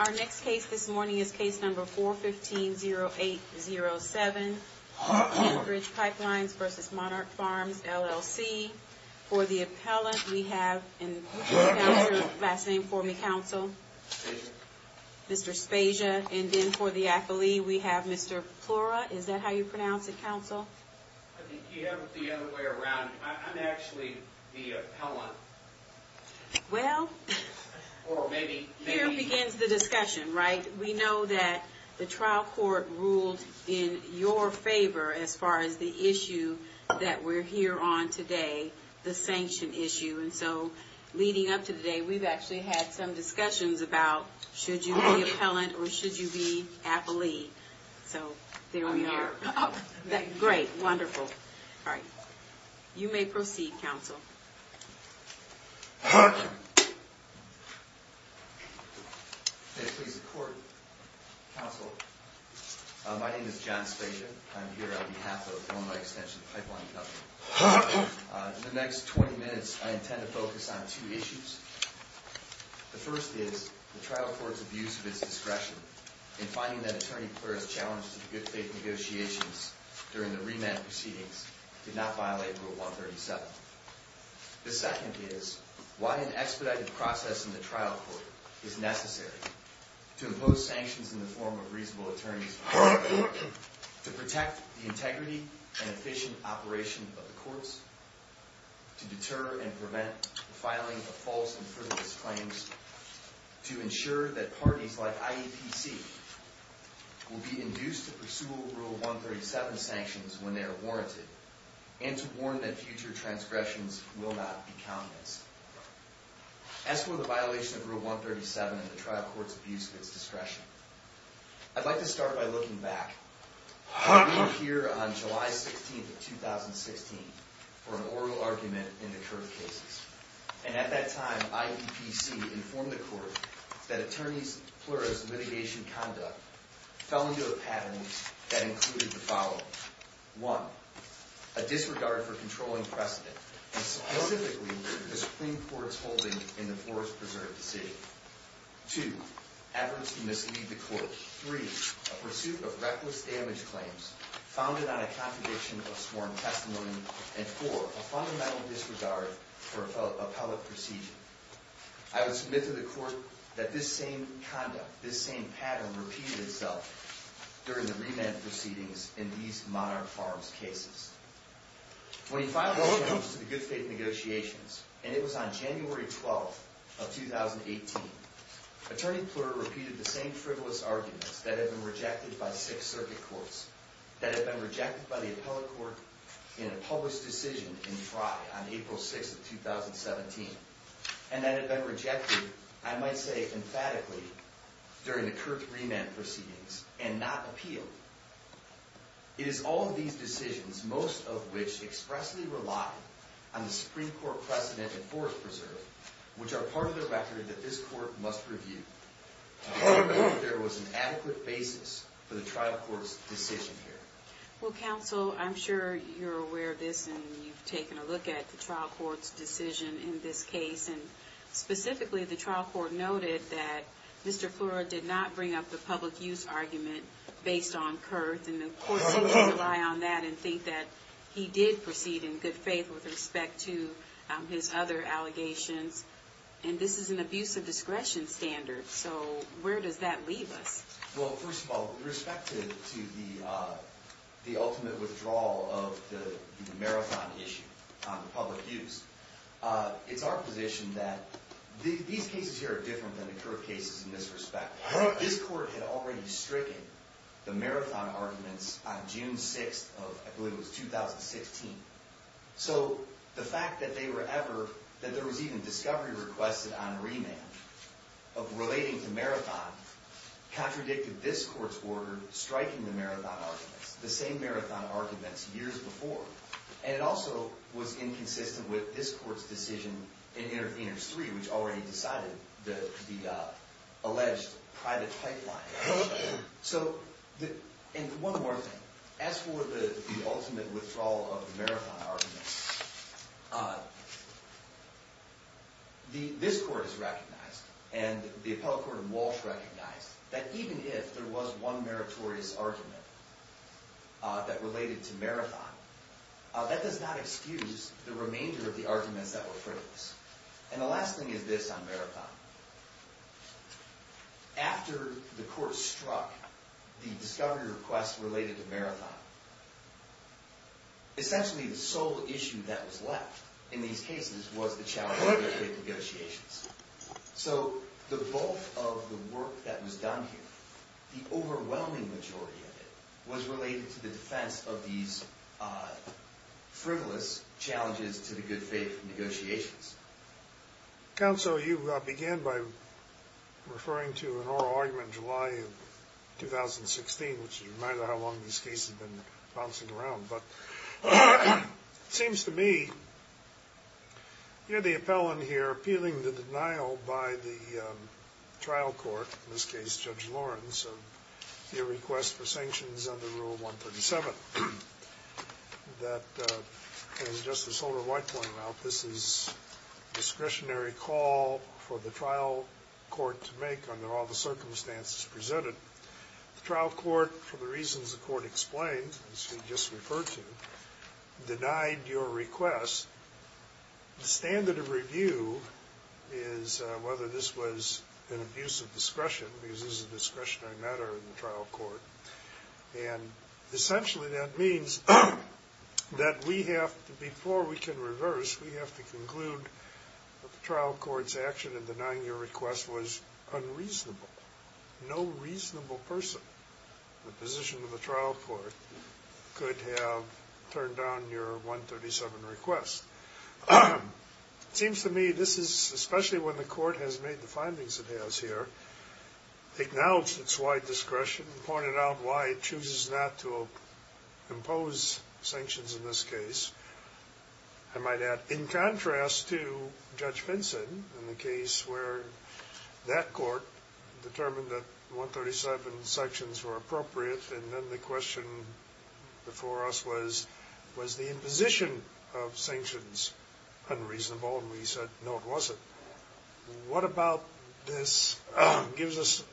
Our next case this morning is case number 415-0807, Enbridge Pipelines v. Monarch Farms, LLC. For the appellant, we have in the last name for me, Counsel? Spasia. Mr. Spasia. And then for the athlete, we have Mr. Plura. Is that how you pronounce it, Counsel? I think you have it the other way around. I'm actually the appellant. Well... Here begins the discussion, right? We know that the trial court ruled in your favor as far as the issue that we're here on today, the sanction issue. And so, leading up to today, we've actually had some discussions about, should you be appellant or should you be athlete? So, there we are. Great, wonderful. All right. You may proceed, Counsel. May it please the Court, Counsel. My name is John Spasia. I'm here on behalf of Monarch Extension Pipeline Company. In the next 20 minutes, I intend to focus on two issues. The first is, the trial court's abuse of its discretion in finding that Attorney Plura's challenges to good faith negotiations during the remand proceedings did not violate Rule 137. The second is, why an expedited process in the trial court is necessary to impose sanctions in the form of reasonable attorneys to protect the integrity and efficient operation of the courts, to deter and prevent the filing of false and frivolous claims, to ensure that parties like IEPC will be induced to pursue Rule 137 sanctions when they are warranted, and to warn that future transgressions will not be countenanced. As for the violation of Rule 137 in the trial court's abuse of its discretion, I'd like to start by looking back. I'm here on July 16th of 2016 for an oral argument in the Kurth cases. And at that time, IEPC informed the court that Attorney Plura's litigation conduct fell into a pattern that included the following. One, a disregard for controlling precedent, and specifically the Supreme Court's holding in the Forest Preserve decision. Two, efforts to mislead the court. Three, a pursuit of reckless damage claims founded on a contradiction of sworn testimony. And four, a fundamental disregard for appellate procedure. I would submit to the court that this same conduct, this same pattern, repeated itself during the remand proceedings in these Monarch Farms cases. When he filed those claims to the Good Faith Negotiations, and it was on January 12th of 2018, Attorney Plura repeated the same frivolous arguments that had been rejected by six circuit courts, that had been rejected by the appellate court in a published decision in Frye on April 6th of 2017, and that had been rejected, I might say emphatically, during the Kurth remand proceedings, and not appealed. It is all of these decisions, most of which expressly relied on the Supreme Court precedent in Forest Preserve, which are part of the record that this court must review. I hope that there was an adequate basis for the trial court's decision here. Well, counsel, I'm sure you're aware of this, and you've taken a look at the trial court's decision in this case. Specifically, the trial court noted that Mr. Plura did not bring up the public use argument based on Kurth, and the court seems to rely on that and think that he did proceed in good faith with respect to his other allegations. And this is an abuse of discretion standard, so where does that leave us? Well, first of all, with respect to the ultimate withdrawal of the marathon issue on the public use, it's our position that these cases here are different than the Kurth cases in this respect. This court had already stricken the marathon arguments on June 6th of, I believe it was, 2016. So the fact that they were ever, that there was even discovery requested on remand, of relating to marathon, contradicted this court's order striking the marathon arguments, the same marathon arguments years before. And it also was inconsistent with this court's decision in Interveners 3, which already decided the alleged private pipeline. So, and one more thing. As for the ultimate withdrawal of the marathon arguments, this court has recognized, and the appellate court in Walsh recognized, that even if there was one meritorious argument that related to marathon, that does not excuse the remainder of the arguments that were produced. And the last thing is this on marathon. After the court struck the discovery request related to marathon, essentially the sole issue that was left in these cases was the challenge of good faith negotiations. So the bulk of the work that was done here, the overwhelming majority of it, was related to the defense of these frivolous challenges to the good faith negotiations. Counsel, you began by referring to an oral argument in July of 2016, which is a reminder of how long these cases have been bouncing around. But it seems to me, you're the appellant here appealing the denial by the trial court, in this case Judge Lawrence, of your request for sanctions under Rule 137. That, as Justice Holder-White pointed out, this is a discretionary call for the trial court to make under all the circumstances presented. The trial court, for the reasons the court explained, as you just referred to, denied your request. The standard of review is whether this was an abuse of discretion, because this is a discretionary matter in the trial court. And essentially that means that we have to, before we can reverse, we have to conclude that the trial court's action in denying your request was unreasonable. No reasonable person in the position of the trial court could have turned down your 137 request. It seems to me, this is, especially when the court has made the findings it has here, acknowledged its wide discretion, pointed out why it chooses not to impose sanctions in this case. I might add, in contrast to Judge Vinson, in the case where that court determined that 137 sanctions were appropriate, and then the question before us was, was the imposition of sanctions unreasonable? And we said, no, it wasn't. What about this gives us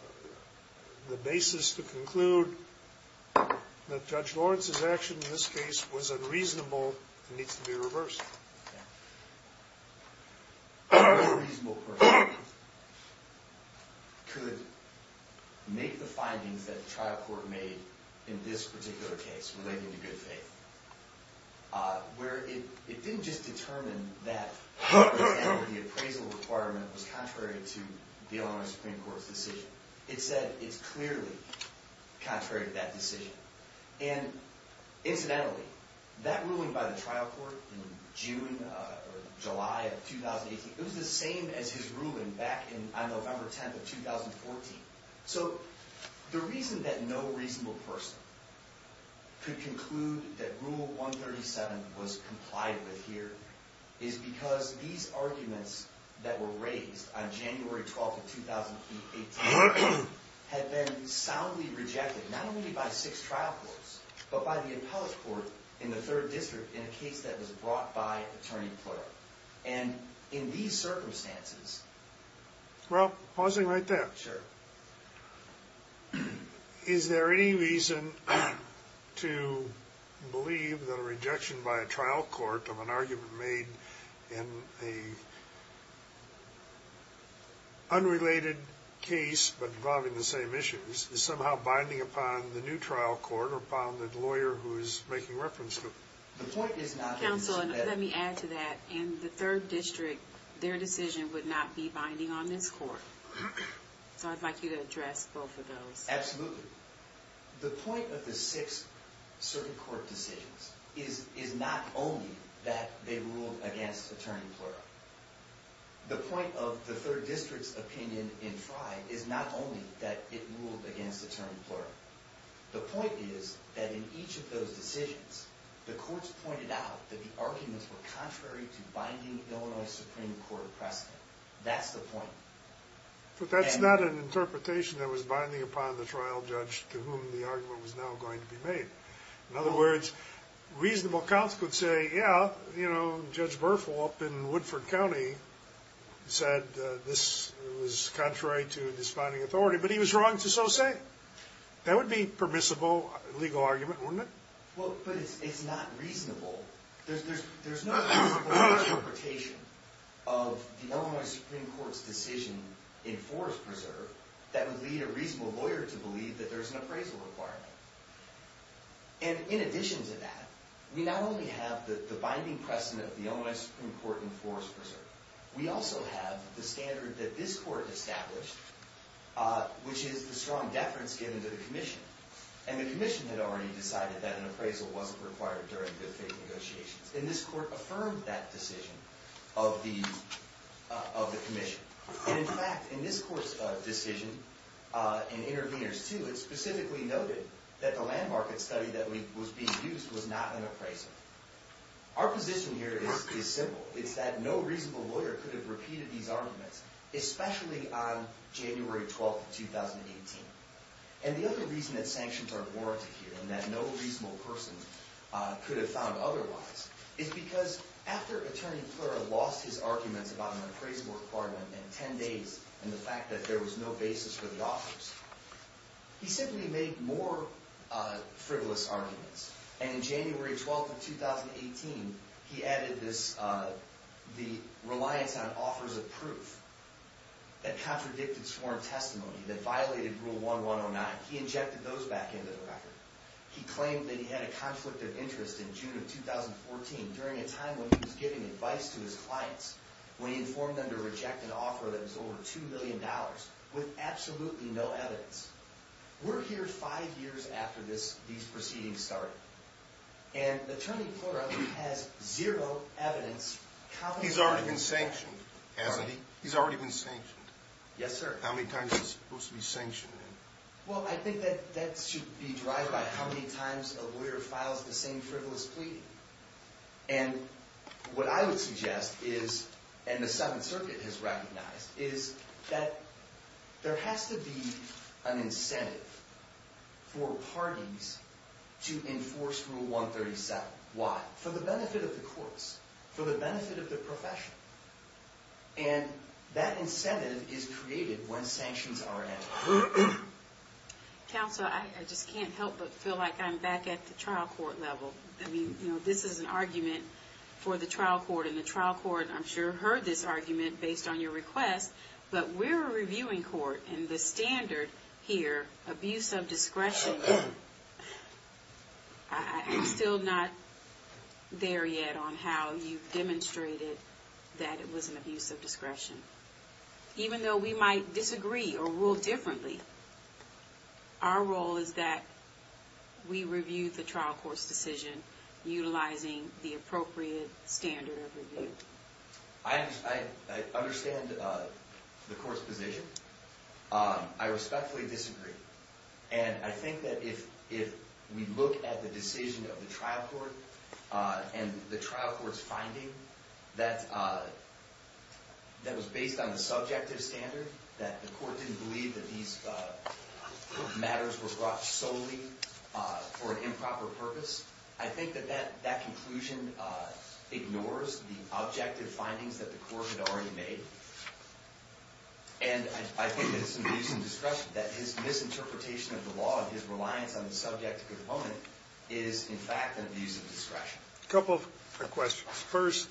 the basis to conclude that Judge Lawrence's action in this case was unreasonable and needs to be reversed? No reasonable person could make the findings that the trial court made in this particular case, relating to good faith, where it didn't just determine that the appraisal requirement was contrary to the Illinois Supreme Court's decision. It said it's clearly contrary to that decision. And incidentally, that ruling by the trial court in June or July of 2018, it was the same as his ruling back on November 10th of 2014. So the reason that no reasonable person could conclude that Rule 137 was complied with here is because these arguments that were raised on January 12th of 2018 had been soundly rejected, not only by six trial courts, but by the appellate court in the 3rd District in a case that was brought by Attorney Flora. And in these circumstances... Well, pausing right there. Sure. Is there any reason to believe that a rejection by a trial court of an argument made in an unrelated case but involving the same issues is somehow binding upon the new trial court or upon the lawyer who is making reference to it? Counsel, let me add to that. In the 3rd District, their decision would not be binding on this court. So I'd like you to address both of those. Absolutely. The point of the six circuit court decisions is not only that they ruled against Attorney Flora. The point of the 3rd District's opinion in Frye is not only that it ruled against Attorney Flora. The point is that in each of those decisions, the courts pointed out that the arguments were contrary to binding Illinois Supreme Court precedent. That's the point. But that's not an interpretation that was binding upon the trial judge to whom the argument was now going to be made. In other words, reasonable counsel could say, Judge Berthel up in Woodford County said this was contrary to this binding authority, but he was wrong to so say. That would be permissible legal argument, wouldn't it? Well, but it's not reasonable. There's no reasonable interpretation of the Illinois Supreme Court's decision in Forest Preserve that would lead a reasonable lawyer to believe that there's an appraisal requirement. And in addition to that, we not only have the binding precedent of the Illinois Supreme Court in Forest Preserve. We also have the standard that this court established, which is the strong deference given to the commission. And the commission had already decided that an appraisal wasn't required during good faith negotiations. And this court affirmed that decision of the commission. And in fact, in this court's decision in Interveners 2, it specifically noted that the land market study that was being used was not an appraisal. Our position here is simple. It's that no reasonable lawyer could have repeated these arguments, especially on January 12th, 2018. And the other reason that sanctions are warranted here, and that no reasonable person could have found otherwise, is because after Attorney Plera lost his arguments about an appraisal requirement in 10 days, and the fact that there was no basis for the offers, he simply made more frivolous arguments. And in January 12th of 2018, he added the reliance on offers of proof that contradicted sworn testimony, that violated Rule 1109. He injected those back into the record. He claimed that he had a conflict of interest in June of 2014, during a time when he was giving advice to his clients, when he informed them to reject an offer that was over $2 million, with absolutely no evidence. We're here five years after these proceedings started. And Attorney Plera has zero evidence. He's already been sanctioned, hasn't he? He's already been sanctioned. Yes, sir. How many times is he supposed to be sanctioned? Well, I think that should be derived by how many times a lawyer files the same frivolous plea. And what I would suggest is, and the Seventh Circuit has recognized, is that there has to be an incentive for parties to enforce Rule 137. Why? For the benefit of the courts. For the benefit of the profession. And that incentive is created when sanctions are in. Counsel, I just can't help but feel like I'm back at the trial court level. I mean, you know, this is an argument for the trial court, and the trial court, I'm sure, heard this argument based on your request. But we're a reviewing court, and the standard here, abuse of discretion, I'm still not there yet on how you've demonstrated that it was an abuse of discretion. Even though we might disagree or rule differently, our role is that we review the trial court's decision utilizing the appropriate standard of review. I understand the court's position. I respectfully disagree. And I think that if we look at the decision of the trial court, and the trial court's finding that was based on the subjective standard, that the court didn't believe that these matters were brought solely for an improper purpose, I think that that conclusion ignores the objective findings that the court had already made. And I think that it's an abuse of discretion, that his misinterpretation of the law and his reliance on the subjective component is, in fact, an abuse of discretion. A couple of questions. First,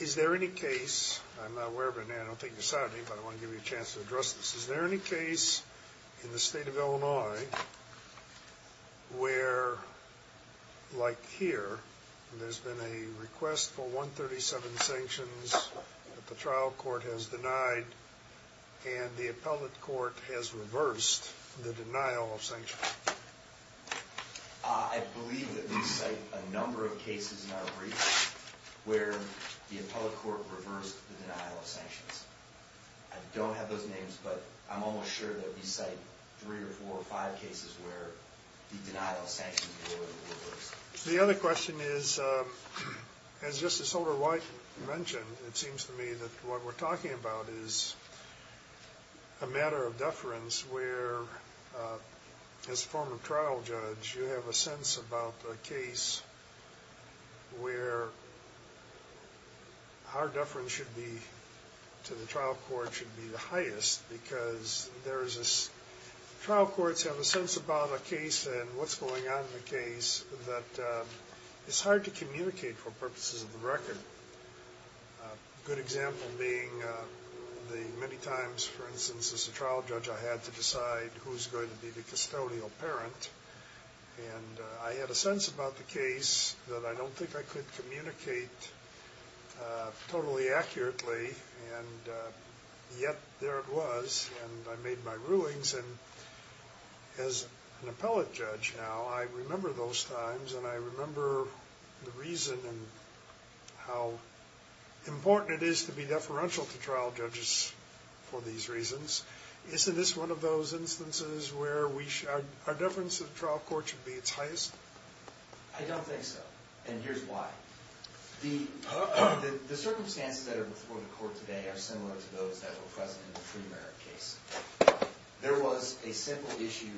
is there any case, I'm not aware of it, and I don't think you saw it, but I want to give you a chance to address this. Is there any case in the state of Illinois where, like here, there's been a request for 137 sanctions that the trial court has denied, and the appellate court has reversed the denial of sanctions? I believe that we cite a number of cases in our brief where the appellate court reversed the denial of sanctions. I don't have those names, but I'm almost sure that we cite three or four or five cases where the denial of sanctions was reversed. The other question is, as Justice Holder-White mentioned, it seems to me that what we're talking about is a matter of deference where, as a former trial judge, you have a sense about a case where our deference to the trial court should be the highest because trial courts have a sense about a case and what's going on in the case that it's hard to communicate for purposes of the record. A good example being the many times, for instance, as a trial judge, I had to decide who's going to be the custodial parent, and I had a sense about the case that I don't think I could communicate totally accurately, and yet there it was, and I made my rulings. And as an appellate judge now, I remember those times, and I remember the reason and how important it is to be deferential to trial judges for these reasons. Isn't this one of those instances where our deference to the trial court should be its highest? I don't think so, and here's why. The circumstances that are before the court today are similar to those that were present in the premerit case. There was a simple issue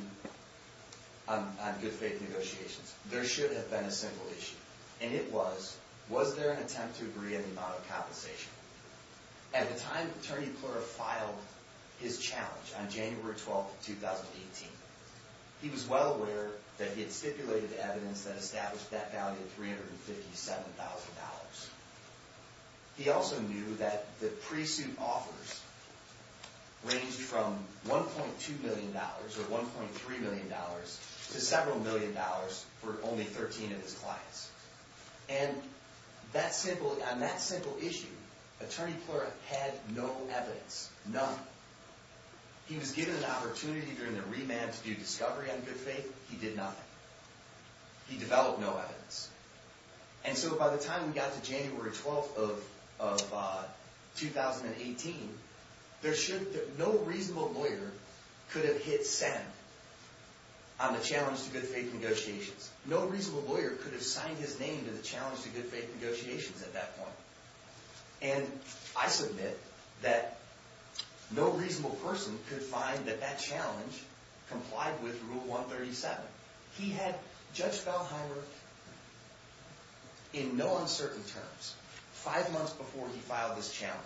on good faith negotiations. There should have been a simple issue, and it was, was there an attempt to agree on the amount of compensation? At the time that Attorney Pleura filed his challenge on January 12, 2018, he was well aware that he had stipulated evidence that established that value of $357,000. He also knew that the pre-suit offers ranged from $1.2 million or $1.3 million to several million dollars for only 13 of his clients. And on that simple issue, Attorney Pleura had no evidence, none. He was given an opportunity during the remand to do discovery on good faith. He did not. He developed no evidence. And so by the time we got to January 12 of 2018, there should, no reasonable lawyer could have hit send on the challenge to good faith negotiations. No reasonable lawyer could have signed his name to the challenge to good faith negotiations at that point. And I submit that no reasonable person could find that that challenge complied with Rule 137. He had, Judge Valheimer, in no uncertain terms, five months before he filed this challenge,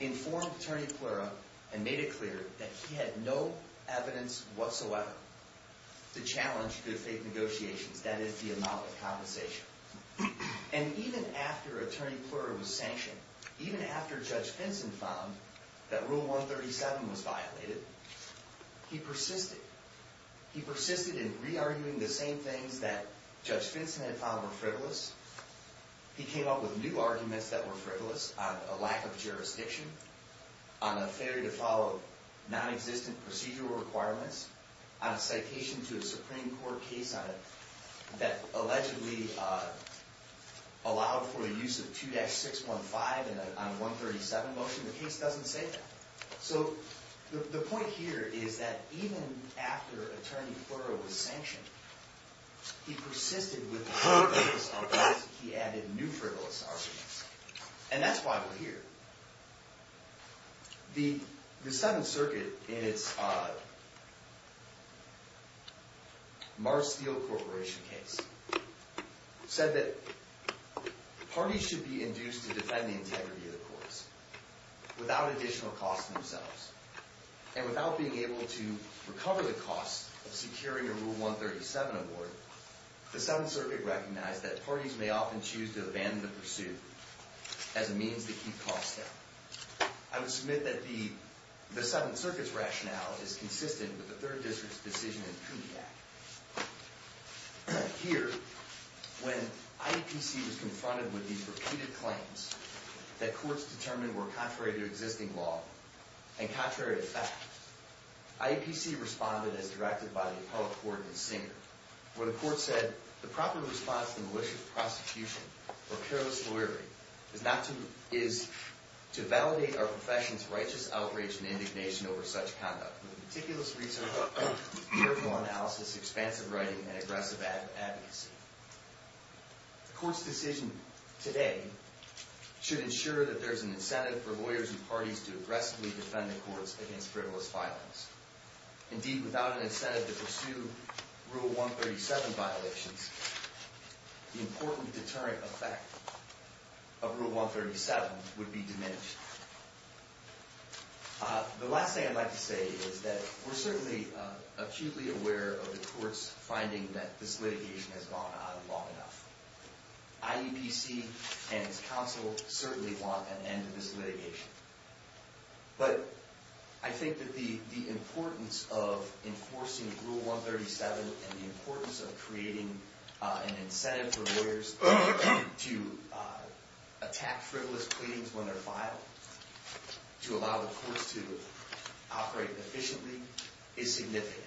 informed Attorney Pleura and made it clear that he had no evidence whatsoever to challenge good faith negotiations, that is, the amount of compensation. And even after Attorney Pleura was sanctioned, even after Judge Vinson found that Rule 137 was violated, he persisted. He persisted in re-arguing the same things that Judge Vinson had found were frivolous. He came up with new arguments that were frivolous on a lack of jurisdiction, on a failure to follow non-existent procedural requirements, on a citation to a Supreme Court case on it that allegedly allowed for the use of 2-615 on a 137 motion. The case doesn't say that. So the point here is that even after Attorney Pleura was sanctioned, he persisted with the frivolous arguments. He added new frivolous arguments. And that's why we're here. The Seventh Circuit, in its Mars Steel Corporation case, said that parties should be induced to defend the integrity of the courts without additional cost to themselves. And without being able to recover the cost of securing a Rule 137 award, the Seventh Circuit recognized that parties may often choose to abandon the pursuit as a means to keep costs down. I would submit that the Seventh Circuit's rationale is consistent with the Third District's decision in the Peabody Act. Here, when IAPC was confronted with these repeated claims that courts determined were contrary to existing law and contrary to fact, IAPC responded as directed by the appellate court in Singer, where the court said, The proper response to malicious prosecution or careless lawyering is to validate our profession's righteous outrage and indignation over such conduct with meticulous research, careful analysis, expansive writing, and aggressive advocacy. The court's decision today should ensure that there is an incentive for lawyers and parties to aggressively defend the courts against frivolous filings. Indeed, without an incentive to pursue Rule 137 violations, the important deterrent effect of Rule 137 would be diminished. The last thing I'd like to say is that we're certainly acutely aware of the court's finding that this litigation has gone on long enough. IAPC and its counsel certainly want an end to this litigation. But I think that the importance of enforcing Rule 137 and the importance of creating an incentive for lawyers to attack frivolous pleadings when they're filed to allow the courts to operate efficiently is significant.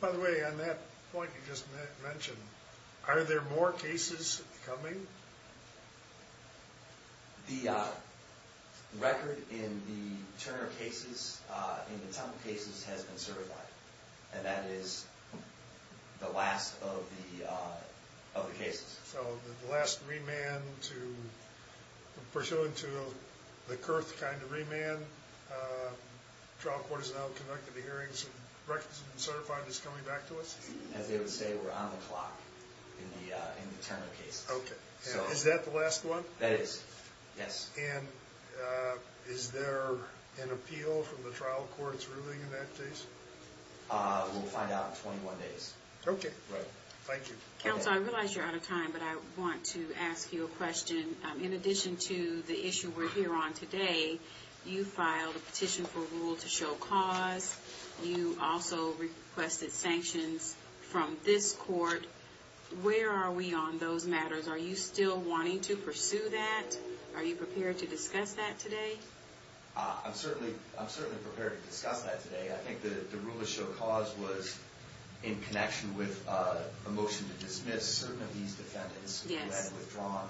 By the way, on that point you just mentioned, are there more cases coming? The record in the Turner cases, in the Temple cases, has been certified. And that is the last of the cases. So the last remand to, pursuant to the Kurth kind of remand, the trial court has now conducted the hearings, the record has been certified, it's coming back to us? As they would say, we're on the clock in the Turner cases. Okay. Is that the last one? That is. Yes. And is there an appeal from the trial court's ruling in that case? We'll find out in 21 days. Okay. Thank you. Counsel, I realize you're out of time, but I want to ask you a question. In addition to the issue we're here on today, you filed a petition for a rule to show cause. You also requested sanctions from this court. Where are we on those matters? Are you still wanting to pursue that? Are you prepared to discuss that today? I'm certainly prepared to discuss that today. I think the rule to show cause was in connection with a motion to dismiss certain of these defendants who had withdrawn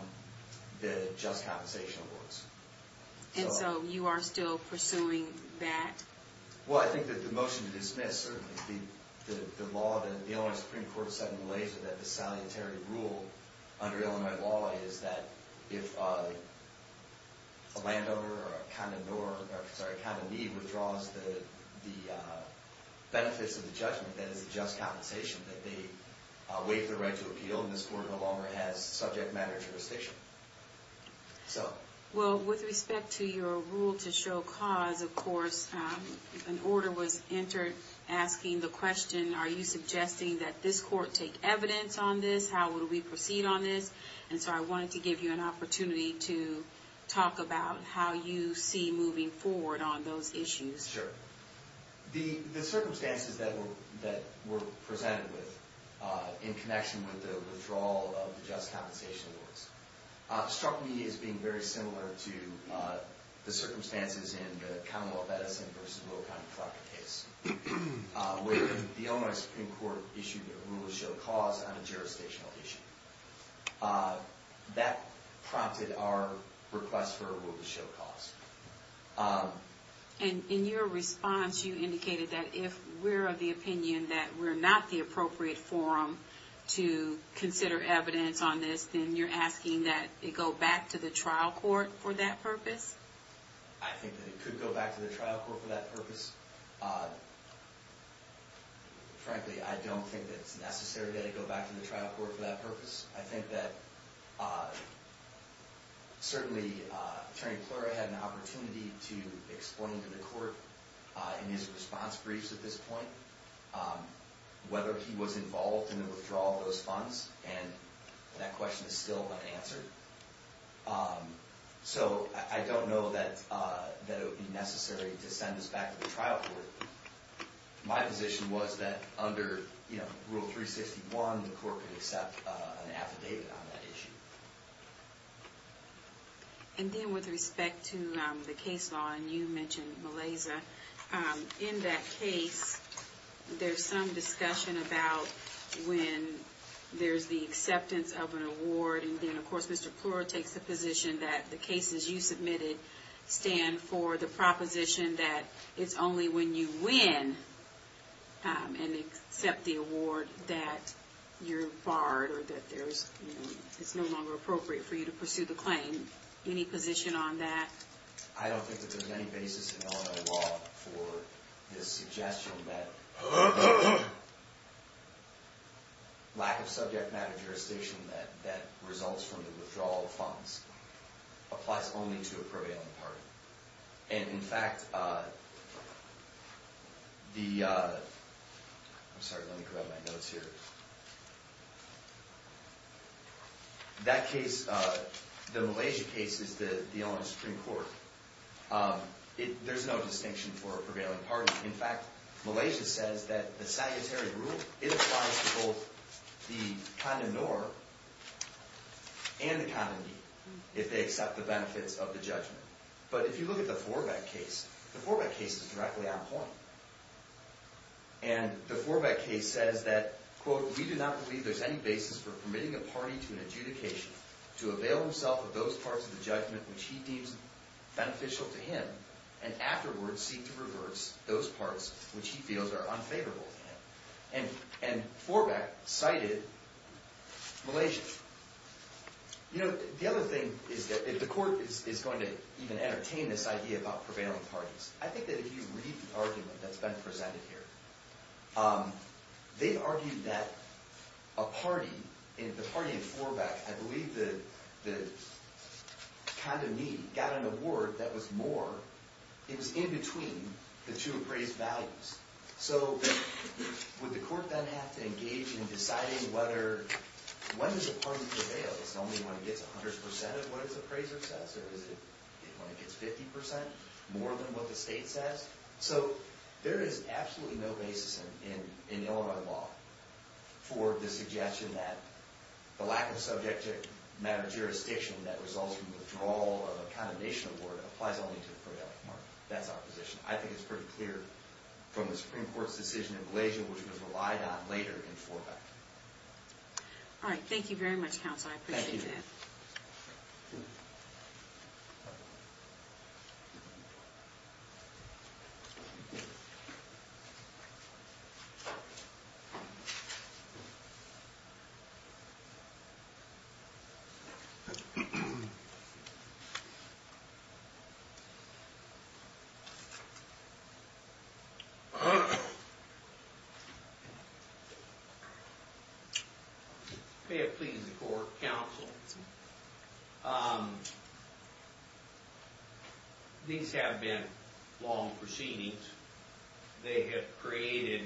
the just compensation awards. And so you are still pursuing that? Well, I think that the motion to dismiss, certainly the law that the Illinois Supreme Court suddenly lays with that salientary rule under Illinois law is that if a landowner or a condor, sorry, a condor leave withdraws the benefits of the judgment that is a just compensation, that they waive their right to appeal, and this court no longer has subject matter jurisdiction. Well, with respect to your rule to show cause, of course, an order was entered asking the question, are you suggesting that this court take evidence on this? How will we proceed on this? And so I wanted to give you an opportunity to talk about how you see moving forward on those issues. Sure. The circumstances that were presented with in connection with the withdrawal of the just compensation awards struck me as being very similar to the circumstances in the Commonwealth Edison v. Will County Fraud case where the Illinois Supreme Court issued a rule to show cause on a jurisdictional issue. That prompted our request for a rule to show cause. And in your response, you indicated that if we're of the opinion that we're not the appropriate forum to consider evidence on this, then you're asking that it go back to the trial court for that purpose? I think that it could go back to the trial court for that purpose. Frankly, I don't think that it's necessary that it go back to the trial court for that purpose. I think that, certainly, Attorney Pleura had an opportunity to explain to the court in his response briefs at this point whether he was involved in the withdrawal of those funds, and that question is still unanswered. So I don't know that it would be necessary to send this back to the trial court. My position was that under Rule 361, the court could accept an affidavit on that issue. And then with respect to the case law, and you mentioned Malaysia, in that case, there's some discussion about when there's the acceptance of an award, and then, of course, Mr. Pleura takes the position that the cases you submitted stand for the proposition that it's only when you win and accept the award that you're barred, or that it's no longer appropriate for you to pursue the claim. Any position on that? I don't think that there's any basis in Illinois law for this suggestion that lack of subject matter jurisdiction that results from the withdrawal of funds applies only to a prevailing party. And, in fact, the... I'm sorry, let me grab my notes here. That case, the Malaysia case, is the Illinois Supreme Court. There's no distinction for a prevailing party. In fact, Malaysia says that the salutary rule, it applies to both the condom nor and the condomy, if they accept the benefits of the judgment. But if you look at the Forbeck case, the Forbeck case is directly on point. And the Forbeck case says that, quote, we do not believe there's any basis for permitting a party to an adjudication to avail himself of those parts of the judgment which he deems beneficial to him and afterwards seek to reverse those parts which he feels are unfavorable to him. And Forbeck cited Malaysia. You know, the other thing is that, if the court is going to even entertain this idea about prevailing parties, I think that if you read the argument that's been presented here, they argued that a party, the party in Forbeck, I believe the condomy, got an award that was more, it was in between the two appraised values. So would the court then have to engage in deciding whether, when does a party prevail? Is it only when it gets 100% of what its appraiser says? Or is it when it gets 50% more than what the state says? So there is absolutely no basis in Illinois law for the suggestion that the lack of subject matter jurisdiction that results from withdrawal of a condemnation award applies only to the prevailing party. That's our position. I think it's pretty clear from the Supreme Court's decision in Malaysia, which was relied on later in Forbeck. Alright, thank you very much, counsel. I appreciate that. Thank you. May it please the court, counsel. These have been long proceedings. They have created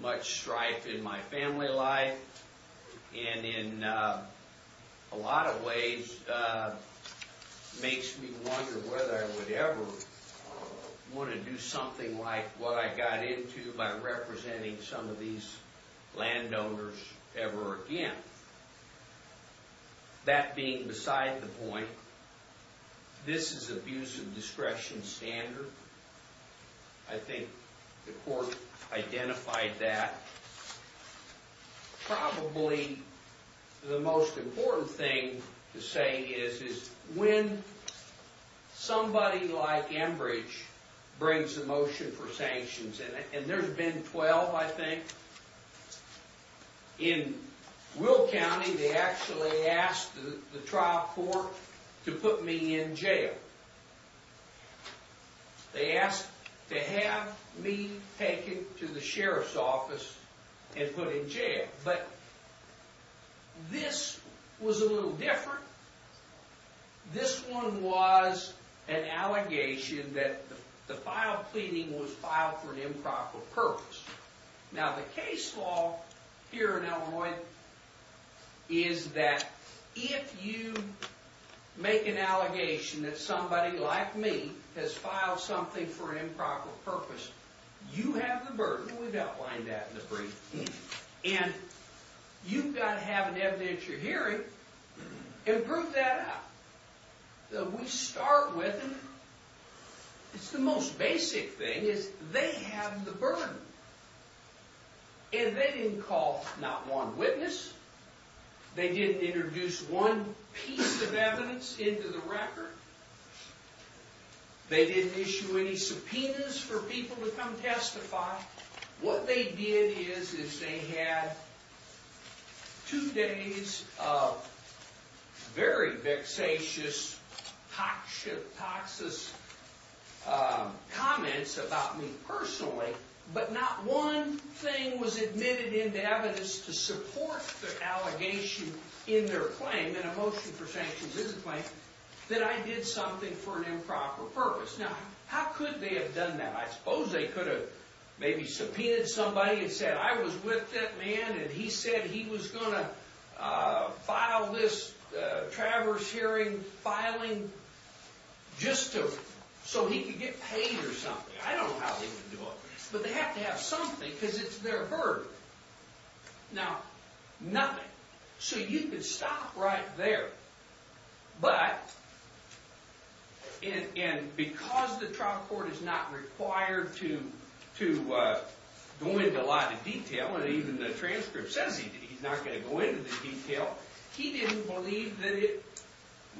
much strife in my family life. And in a lot of ways, makes me wonder whether I would ever want to do something like what I got into by representing some of these landowners ever again. That being beside the point, this is abuse of discretion standard. I think the court identified that. Probably the most important thing to say is when somebody like Enbridge brings a motion for sanctions, and there's been 12, I think, in Will County, they actually asked the trial court to put me in jail. They asked to have me taken to the sheriff's office and put in jail. But this was a little different. This one was an allegation that the file pleading was filed for an improper purpose. Is that if you make an allegation that somebody like me has filed something for an improper purpose, you have the burden. We've outlined that in the brief. And you've got to have an evidence you're hearing and prove that out. We start with, it's the most basic thing, is they have the burden. And they didn't call not one witness. They didn't introduce one piece of evidence into the record. They didn't issue any subpoenas for people to come testify. What they did is they had two days of very vexatious, toxic comments about me personally, but not one thing was admitted into evidence to support the allegation in their claim, and a motion for sanctions is a claim, that I did something for an improper purpose. Now, how could they have done that? I suppose they could have maybe subpoenaed somebody and said, I was with that man and he said he was going to file this traverse hearing filing just so he could get paid or something. I don't know how they would do it. But they have to have something because it's their burden. Now, nothing. So you could stop right there. But, and because the trial court is not required to go into a lot of detail, and even the transcript says he's not going to go into the detail, he didn't believe that it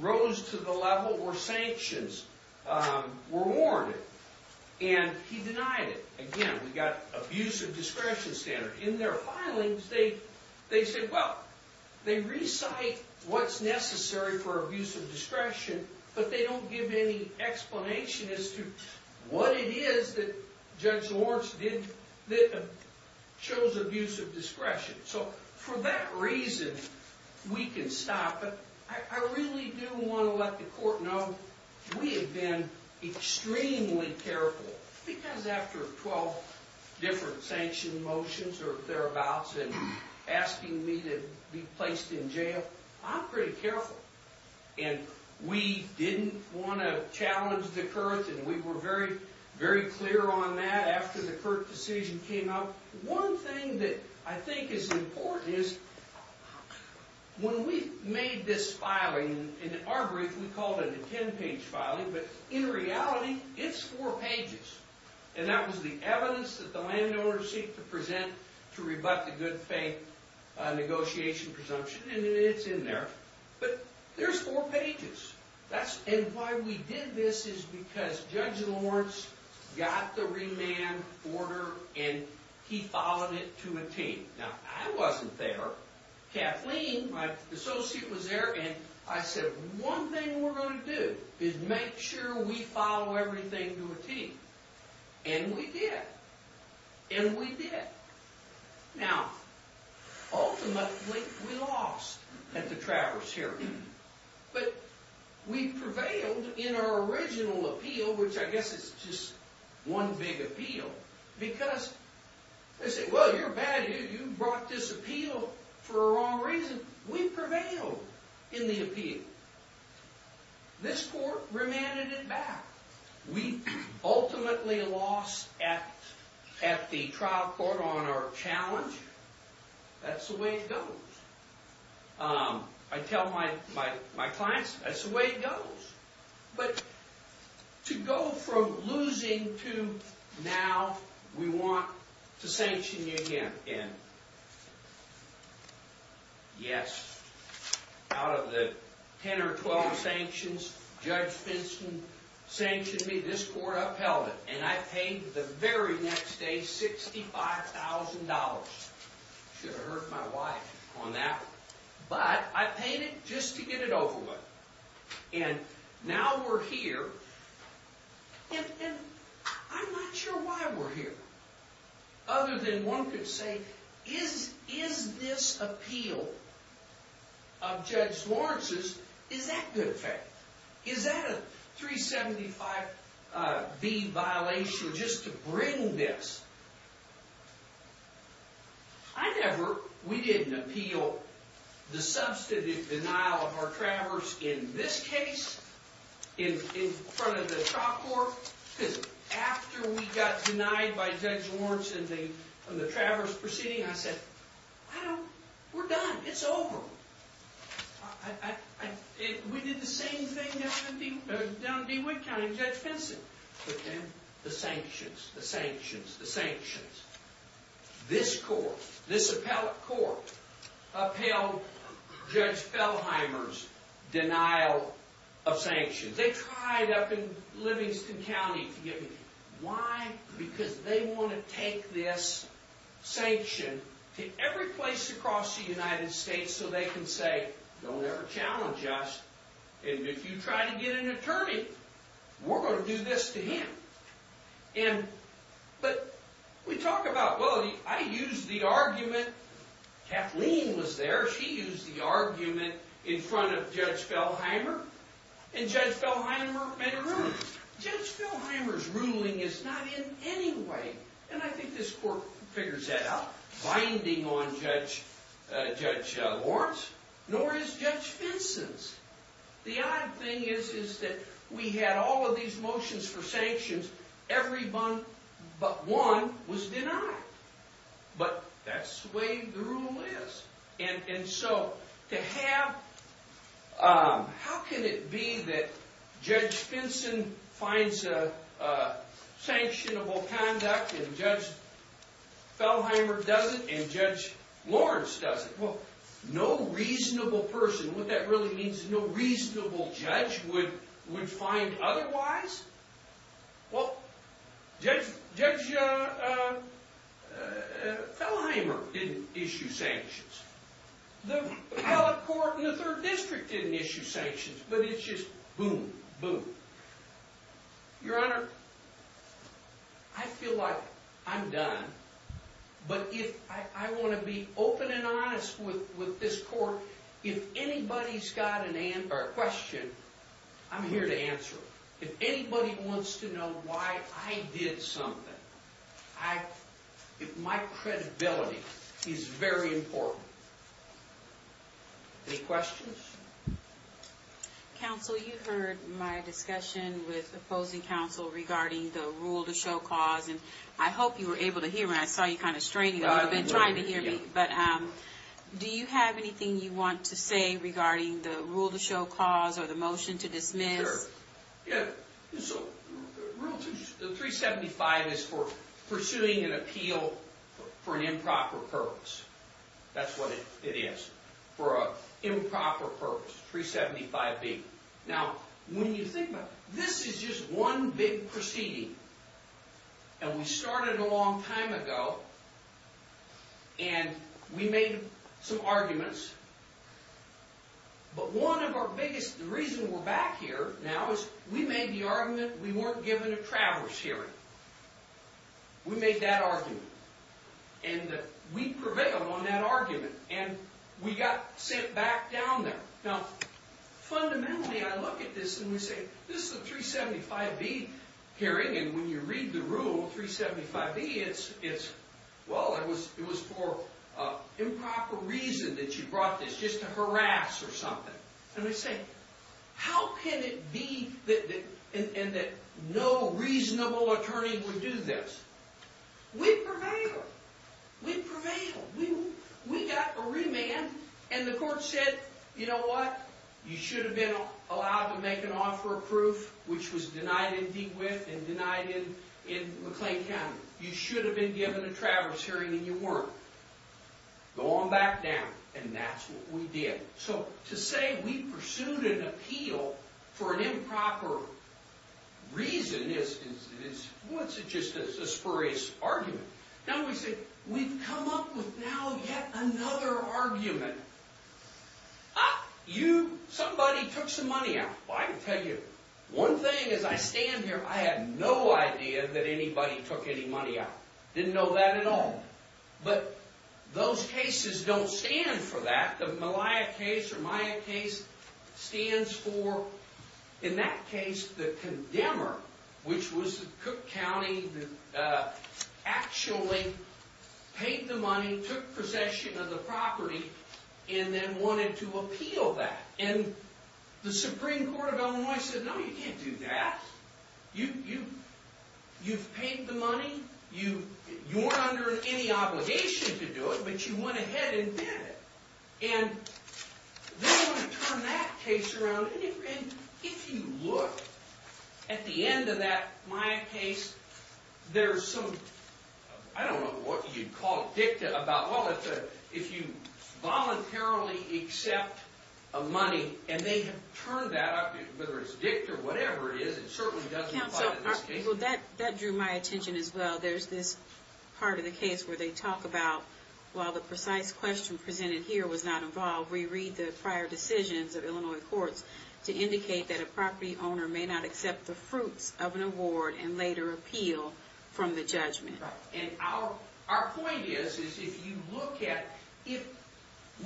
rose to the level where sanctions were warranted. And he denied it. Again, we've got abusive discretion standard. In their filings, they say, well, they recite what's necessary for abusive discretion, but they don't give any explanation as to what it is that Judge Lawrence chose abusive discretion. So for that reason, we can stop it. I really do want to let the court know we have been extremely careful because after 12 different sanction motions or thereabouts and asking me to be placed in jail, I'm pretty careful. And we didn't want to challenge the court, and we were very, very clear on that after the court decision came out. One thing that I think is important is when we made this filing, in our brief, we called it a 10-page filing, but in reality, it's four pages. And that was the evidence that the landowners seek to present to rebut the good faith negotiation presumption, and it's in there. But there's four pages. And why we did this is because Judge Lawrence got the remand order, and he filed it to a team. Now, I wasn't there. Kathleen, my associate, was there, and I said one thing we're going to do is make sure we file everything to a team. And we did. And we did. Now, ultimately, we lost at the Travers hearing. But we prevailed in our original appeal, which I guess is just one big appeal, because they say, well, you're bad. You brought this appeal for a wrong reason. We prevailed in the appeal. This court remanded it back. We ultimately lost at the trial court on our challenge. That's the way it goes. I tell my clients, that's the way it goes. But to go from losing to now we want to sanction you again. Yes, out of the 10 or 12 sanctions, Judge Vincent sanctioned me. This court upheld it. And I paid the very next day $65,000. Should have hurt my wife on that one. But I paid it just to get it over with. And now we're here. And I'm not sure why we're here, other than one could say, is this appeal of Judge Lawrence's, is that good faith? Is that a 375B violation just to bring this? I never, we didn't appeal the substantive denial of our Travers in this case in front of the trial court. Because after we got denied by Judge Lawrence in the Travers proceeding, I said, well, we're done. It's over. We did the same thing down in DeWitt County with Judge Vincent. The sanctions, the sanctions, the sanctions. This court, this appellate court, upheld Judge Fellheimer's denial of sanctions. They tried up in Livingston County to get me. Why? Because they want to take this sanction to every place across the United States so they can say, don't ever challenge us. And if you try to get an attorney, we're going to do this to him. But we talk about, well, I used the argument. Kathleen was there. She used the argument in front of Judge Fellheimer. And Judge Fellheimer made a ruling. Judge Fellheimer's ruling is not in any way, and I think this court figures that out, binding on Judge Lawrence, nor is Judge Vincent's. The odd thing is that we had all of these motions for sanctions. Every one but one was denied. But that's the way the rule is. And so to have, how can it be that Judge Vincent finds a sanctionable conduct and Judge Fellheimer doesn't and Judge Lawrence doesn't? Well, no reasonable person, what that really means, no reasonable judge would find otherwise? Well, Judge Fellheimer didn't issue sanctions. The appellate court in the Third District didn't issue sanctions. But it's just boom, boom. Your Honor, I feel like I'm done. But I want to be open and honest with this court. If anybody's got a question, I'm here to answer it. If anybody wants to know why I did something, my credibility is very important. Any questions? Counsel, you heard my discussion with opposing counsel regarding the rule to show cause, and I hope you were able to hear me. I saw you kind of straining a little bit and trying to hear me. But do you have anything you want to say regarding the rule to show cause or the motion to dismiss? Sure. Rule 375 is for pursuing an appeal for an improper purpose. That's what it is, for an improper purpose, 375B. Now, when you think about it, this is just one big proceeding. And we started a long time ago, and we made some arguments. But one of our biggest reasons we're back here now is we made the argument we weren't given a travelers' hearing. We made that argument. And we prevailed on that argument, and we got sent back down there. Now, fundamentally, I look at this and we say, this is a 375B hearing, and when you read the rule, 375B, it's, well, it was for improper reason that you brought this, just to harass or something. And I say, how can it be that no reasonable attorney would do this? We prevailed. We prevailed. We got a remand, and the court said, you know what? You should have been allowed to make an offer of proof, which was denied in DeWitt and denied in McLean County. You should have been given a travelers' hearing, and you weren't. Go on back down, and that's what we did. So to say we pursued an appeal for an improper reason is, well, it's just a spurious argument. Now, we say, we've come up with now yet another argument. Ah, you, somebody took some money out. Well, I can tell you, one thing, as I stand here, I had no idea that anybody took any money out. Didn't know that at all. But those cases don't stand for that. The Malia case or Maya case stands for, in that case, the condemner, which was Cook County that actually paid the money, took possession of the property, and then wanted to appeal that. And the Supreme Court of Illinois said, no, you can't do that. You've paid the money. You weren't under any obligation to do it, but you went ahead and did it. And they want to turn that case around. If you look at the end of that Maya case, there's some, I don't know what you'd call it, dicta about, well, if you voluntarily accept a money, and they have turned that up, whether it's dicta or whatever it is, it certainly doesn't apply to this case. Well, that drew my attention as well. There's this part of the case where they talk about, while the precise question presented here was not involved, we read the prior decisions of Illinois courts to indicate that a property owner may not accept the fruits of an award and later appeal from the judgment. Right. And our point is, is if you look at, if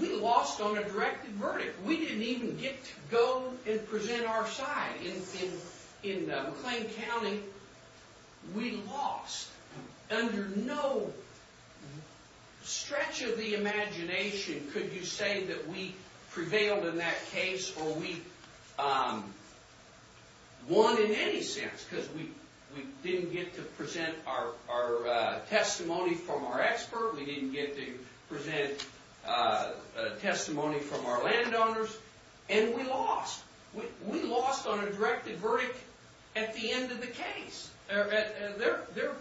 we lost on a directed verdict, we didn't even get to go and present our side. In McLean County, we lost. Under no stretch of the imagination could you say that we prevailed in that case or we won in any sense because we didn't get to present our testimony from our expert, we didn't get to present testimony from our landowners, and we lost. We lost on a directed verdict at the end of the case. Their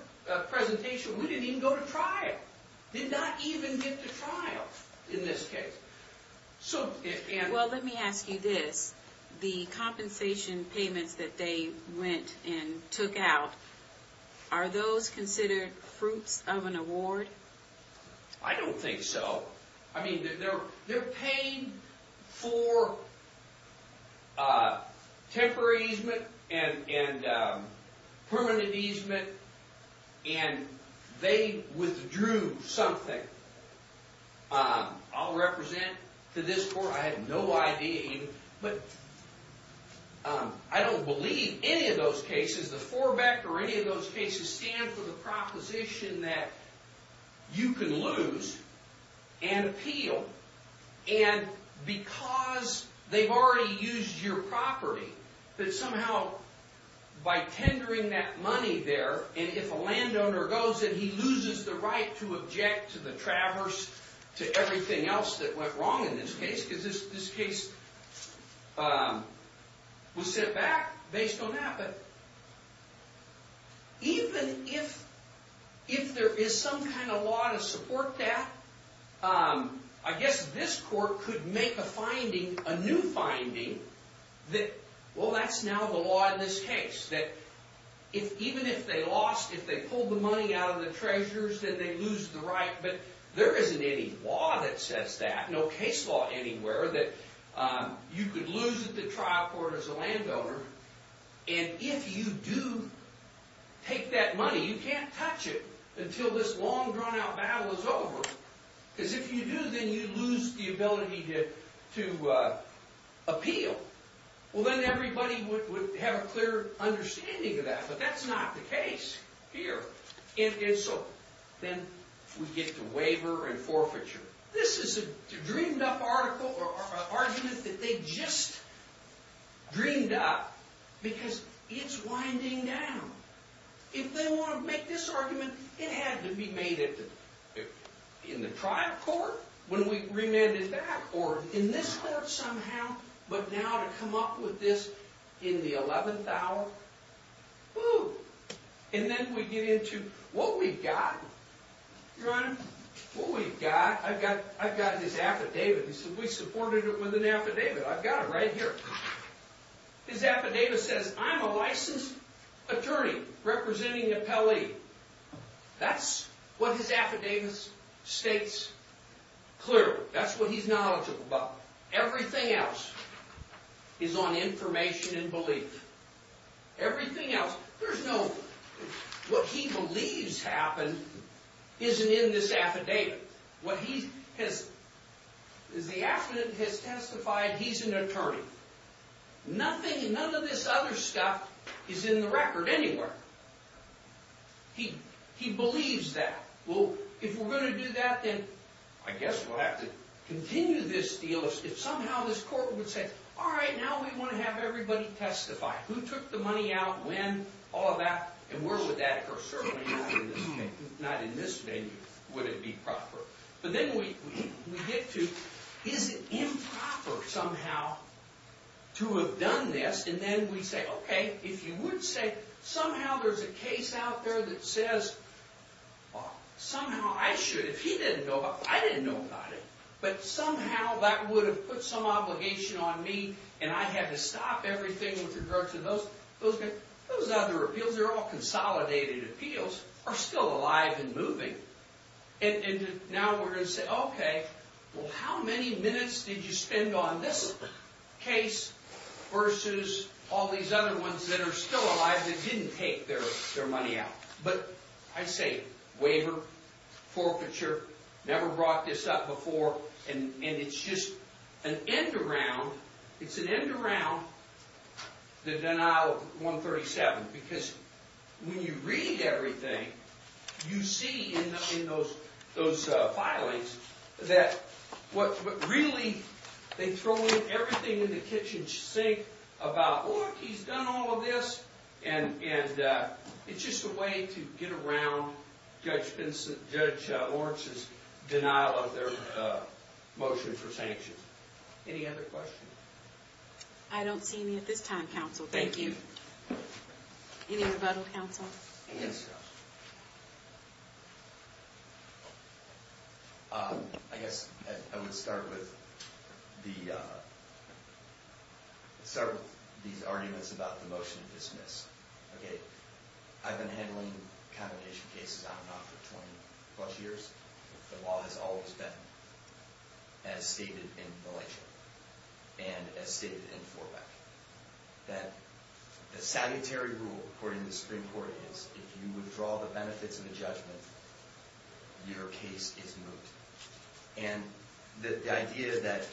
presentation, we didn't even go to trial. Did not even get to trial in this case. Well, let me ask you this. The compensation payments that they went and took out, are those considered fruits of an award? I don't think so. I mean, they're paying for temporary easement and permanent easement and they withdrew something. I'll represent to this court, I have no idea, but I don't believe any of those cases, the forebeck or any of those cases, stand for the proposition that you can lose and appeal. And because they've already used your property, that somehow by tendering that money there, and if a landowner goes and he loses the right to object to the traverse, to everything else that went wrong in this case, because this case was set back based on that, but even if there is some kind of law to support that, I guess this court could make a finding, a new finding, that well, that's now the law in this case. That even if they lost, if they pulled the money out of the treasures, that they lose the right, but there isn't any law that says that. No case law anywhere that you could lose at the trial court as a landowner and if you do take that money, you can't touch it until this long drawn out battle is over. Because if you do, then you lose the ability to appeal. Well then everybody would have a clear understanding of that, but that's not the case here. And so then we get to waiver and forfeiture. This is a dreamed up article or argument that they just dreamed up because it's winding down. If they want to make this argument, it had to be made in the trial court when we remanded that, or in this court somehow, but now to come up with this in the 11th hour, whoo. And then we get into what we've got. Your Honor, what we've got, I've got his affidavit. He said, we supported it with an affidavit. I've got it right here. His affidavit says, I'm a licensed attorney representing the Pele. That's what his affidavit states clearly. That's what he's knowledgeable about. Everything else is on information and belief. Everything else, there's no, what he believes happened isn't in this affidavit. What he has, the affidavit has testified he's an attorney. Nothing, none of this other stuff is in the record anywhere. He believes that. Well, if we're going to do that, then I guess we'll have to continue this deal. If somehow this court would say, all right, now we want to have everybody testify. Who took the money out, when, all of that, and where would that occur? Certainly not in this case. Not in this venue would it be proper. But then we get to, is it improper somehow to have done this? And then we say, okay, if you would say, somehow there's a case out there that says, somehow I should, if he didn't know about it, I didn't know about it. But somehow that would have put some obligation on me, and I had to stop everything with regards to those. Those other appeals, they're all consolidated appeals, are still alive and moving. And now we're going to say, okay, well, how many minutes did you spend on this case versus all these other ones that are still alive that didn't take their money out? But I say, waiver, forfeiture, never brought this up before. And it's just an end around, it's an end around the denial of 137. Because when you read everything, you see in those filings that what really, they throw everything in the kitchen sink about, oh, he's done all of this. And it's just a way to get around Judge Lawrence's denial of their motion for sanctions. Any other questions? I don't see any at this time, counsel. Thank you. Any rebuttal, counsel? Yes. Thank you, counsel. I guess I would start with these arguments about the motion to dismiss. Okay, I've been handling condemnation cases, I don't know, for 20-plus years. The law has always been, as stated in Malaysia, and as stated in Forbeck, that the salutary rule, according to the Supreme Court, is if you withdraw the benefits of a judgment, your case is moot. And the idea that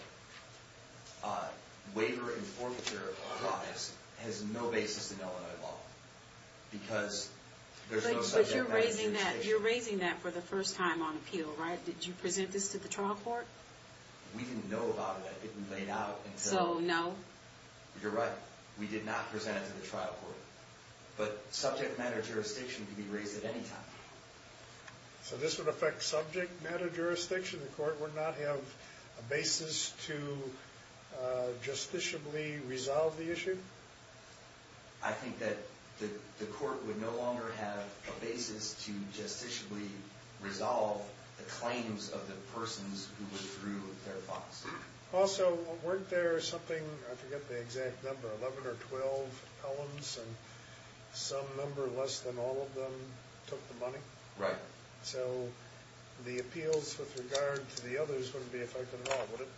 waiver and forfeiture applies has no basis in Illinois law. Because there's no subject matter to the case. But you're raising that for the first time on appeal, right? Did you present this to the trial court? We didn't know about it, it hadn't been laid out. So, no? You're right, we did not present it to the trial court. But subject matter jurisdiction could be raised at any time. So this would affect subject matter jurisdiction? The court would not have a basis to justiciably resolve the issue? I think that the court would no longer have a basis to justiciably resolve the claims of the persons who withdrew their funds. Also, weren't there something, I forget the exact number, 11 or 12 columns, and some number less than all of them took the money? Right. So the appeals with regard to the others wouldn't be affected at all, would it?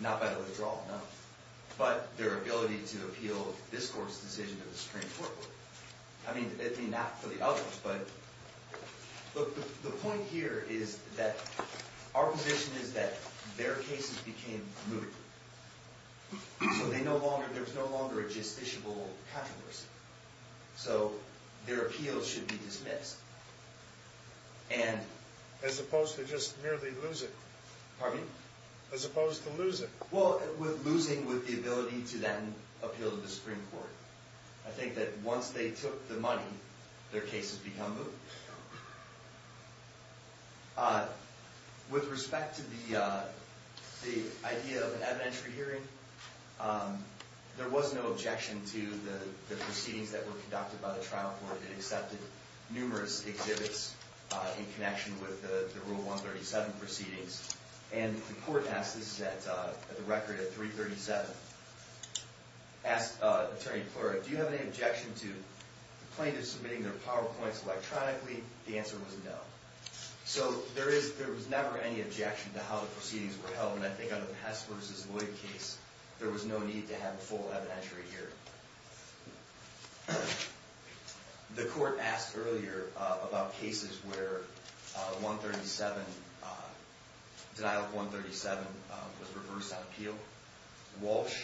Not by the withdrawal, no. But their ability to appeal this court's decision to the Supreme Court would. I mean, not for the others, but... Look, the point here is that our position is that their cases became moot. So there's no longer a justiciable controversy. So their appeals should be dismissed. And... As opposed to just merely lose it. Pardon me? As opposed to lose it. Well, losing with the ability to then appeal to the Supreme Court. I think that once they took the money, their cases become moot. With respect to the idea of an evidentiary hearing, there was no objection to the proceedings that were conducted by the trial court that accepted numerous exhibits in connection with the Rule 137 proceedings. And the court asked, this is at the record at 337, asked Attorney Plura, do you have any objection to plaintiffs submitting their PowerPoints electronically? The answer was no. So there was never any objection to how the proceedings were held. And I think on the Pest v. Lloyd case, there was no need to have a full evidentiary hearing. The court asked earlier about cases where 137... Denial of 137 was reversed on appeal. Walsh,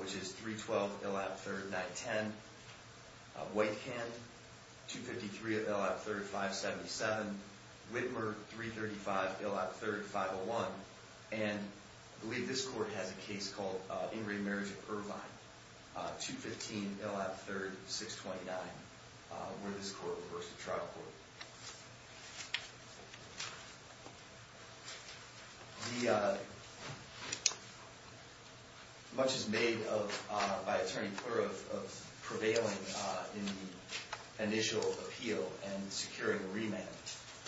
which is 312, Ill. 3rd, 910. Whitehan, 253, Ill. 3rd, 577. Whitmer, 335, Ill. 3rd, 501. And I believe this court has a case called Ingrate Marriage of Irvine. 215, Ill. 3rd, 629, where this court reversed the trial court. Much is made by Attorney Plura of prevailing in the initial appeal and securing remand.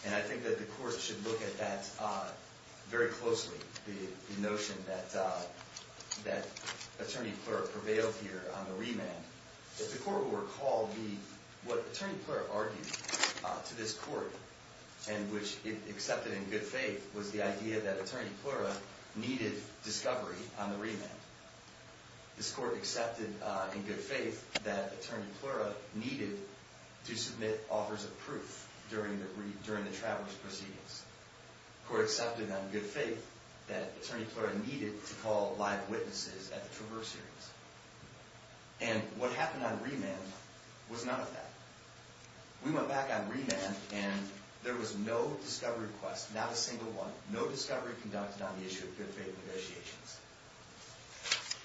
And I think that the court should look at that very closely, the notion that Attorney Plura prevailed here on the remand. If the court will recall, what Attorney Plura argued to this court, and which it accepted in good faith, was the idea that Attorney Plura needed discovery on the remand. This court accepted in good faith that Attorney Plura needed to submit offers of proof during the travelers' proceedings. This court accepted in good faith that Attorney Plura needed to call live witnesses at the traverse hearings. And what happened on remand was none of that. We went back on remand and there was no discovery request, not a single one. No discovery conducted on the issue of good faith negotiations.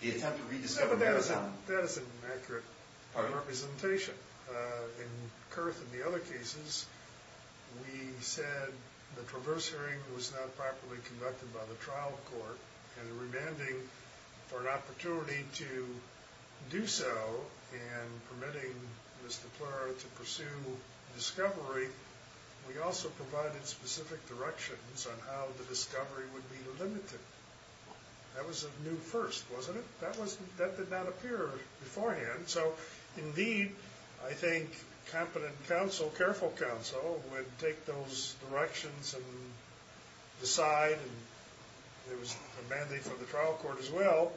The attempt to rediscover Marathon... That is an inaccurate representation. In Kurth and the other cases, we said the traverse hearing was not properly conducted by the trial court. And in remanding for an opportunity to do so, and permitting Mr. Plura to pursue discovery, we also provided specific directions on how the discovery would be limited. That was a new first, wasn't it? That did not appear beforehand. So indeed, I think competent counsel, careful counsel, would take those directions and decide. There was a mandate from the trial court as well.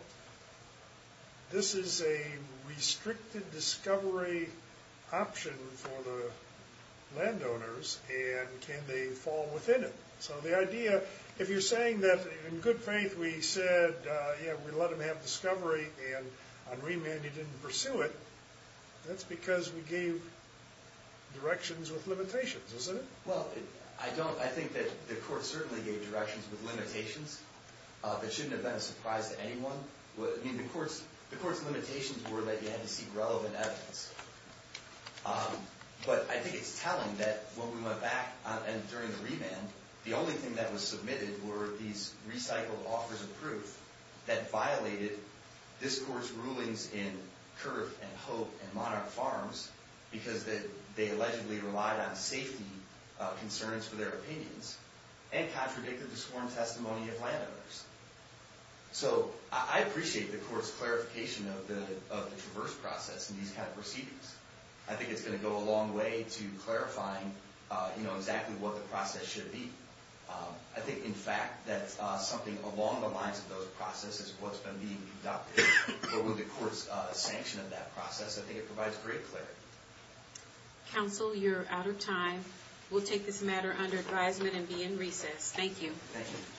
This is a restricted discovery option for the landowners. And can they fall within it? So the idea, if you're saying that in good faith we said, yeah, we let them have discovery and on remand you didn't pursue it, that's because we gave directions with limitations, isn't it? Well, I think that the court certainly gave directions with limitations. That shouldn't have been a surprise to anyone. I mean, the court's limitations were that you had to seek relevant evidence. But I think it's telling that when we went back and during the remand, the only thing that was submitted were these recycled offers of proof that violated this court's rulings in Kerf and Hope and Monarch Farms because they allegedly relied on safety concerns for their opinions and contradicted the sworn testimony of landowners. So I appreciate the court's clarification of the traverse process and these kind of proceedings. I think it's going to go a long way to clarifying exactly what the process should be. I think, in fact, that something along the lines of those processes is what's been being adopted or what the court's sanction of that process. I think it provides great clarity. Counsel, you're out of time. We'll take this matter under advisement and be in recess. Thank you. Thank you.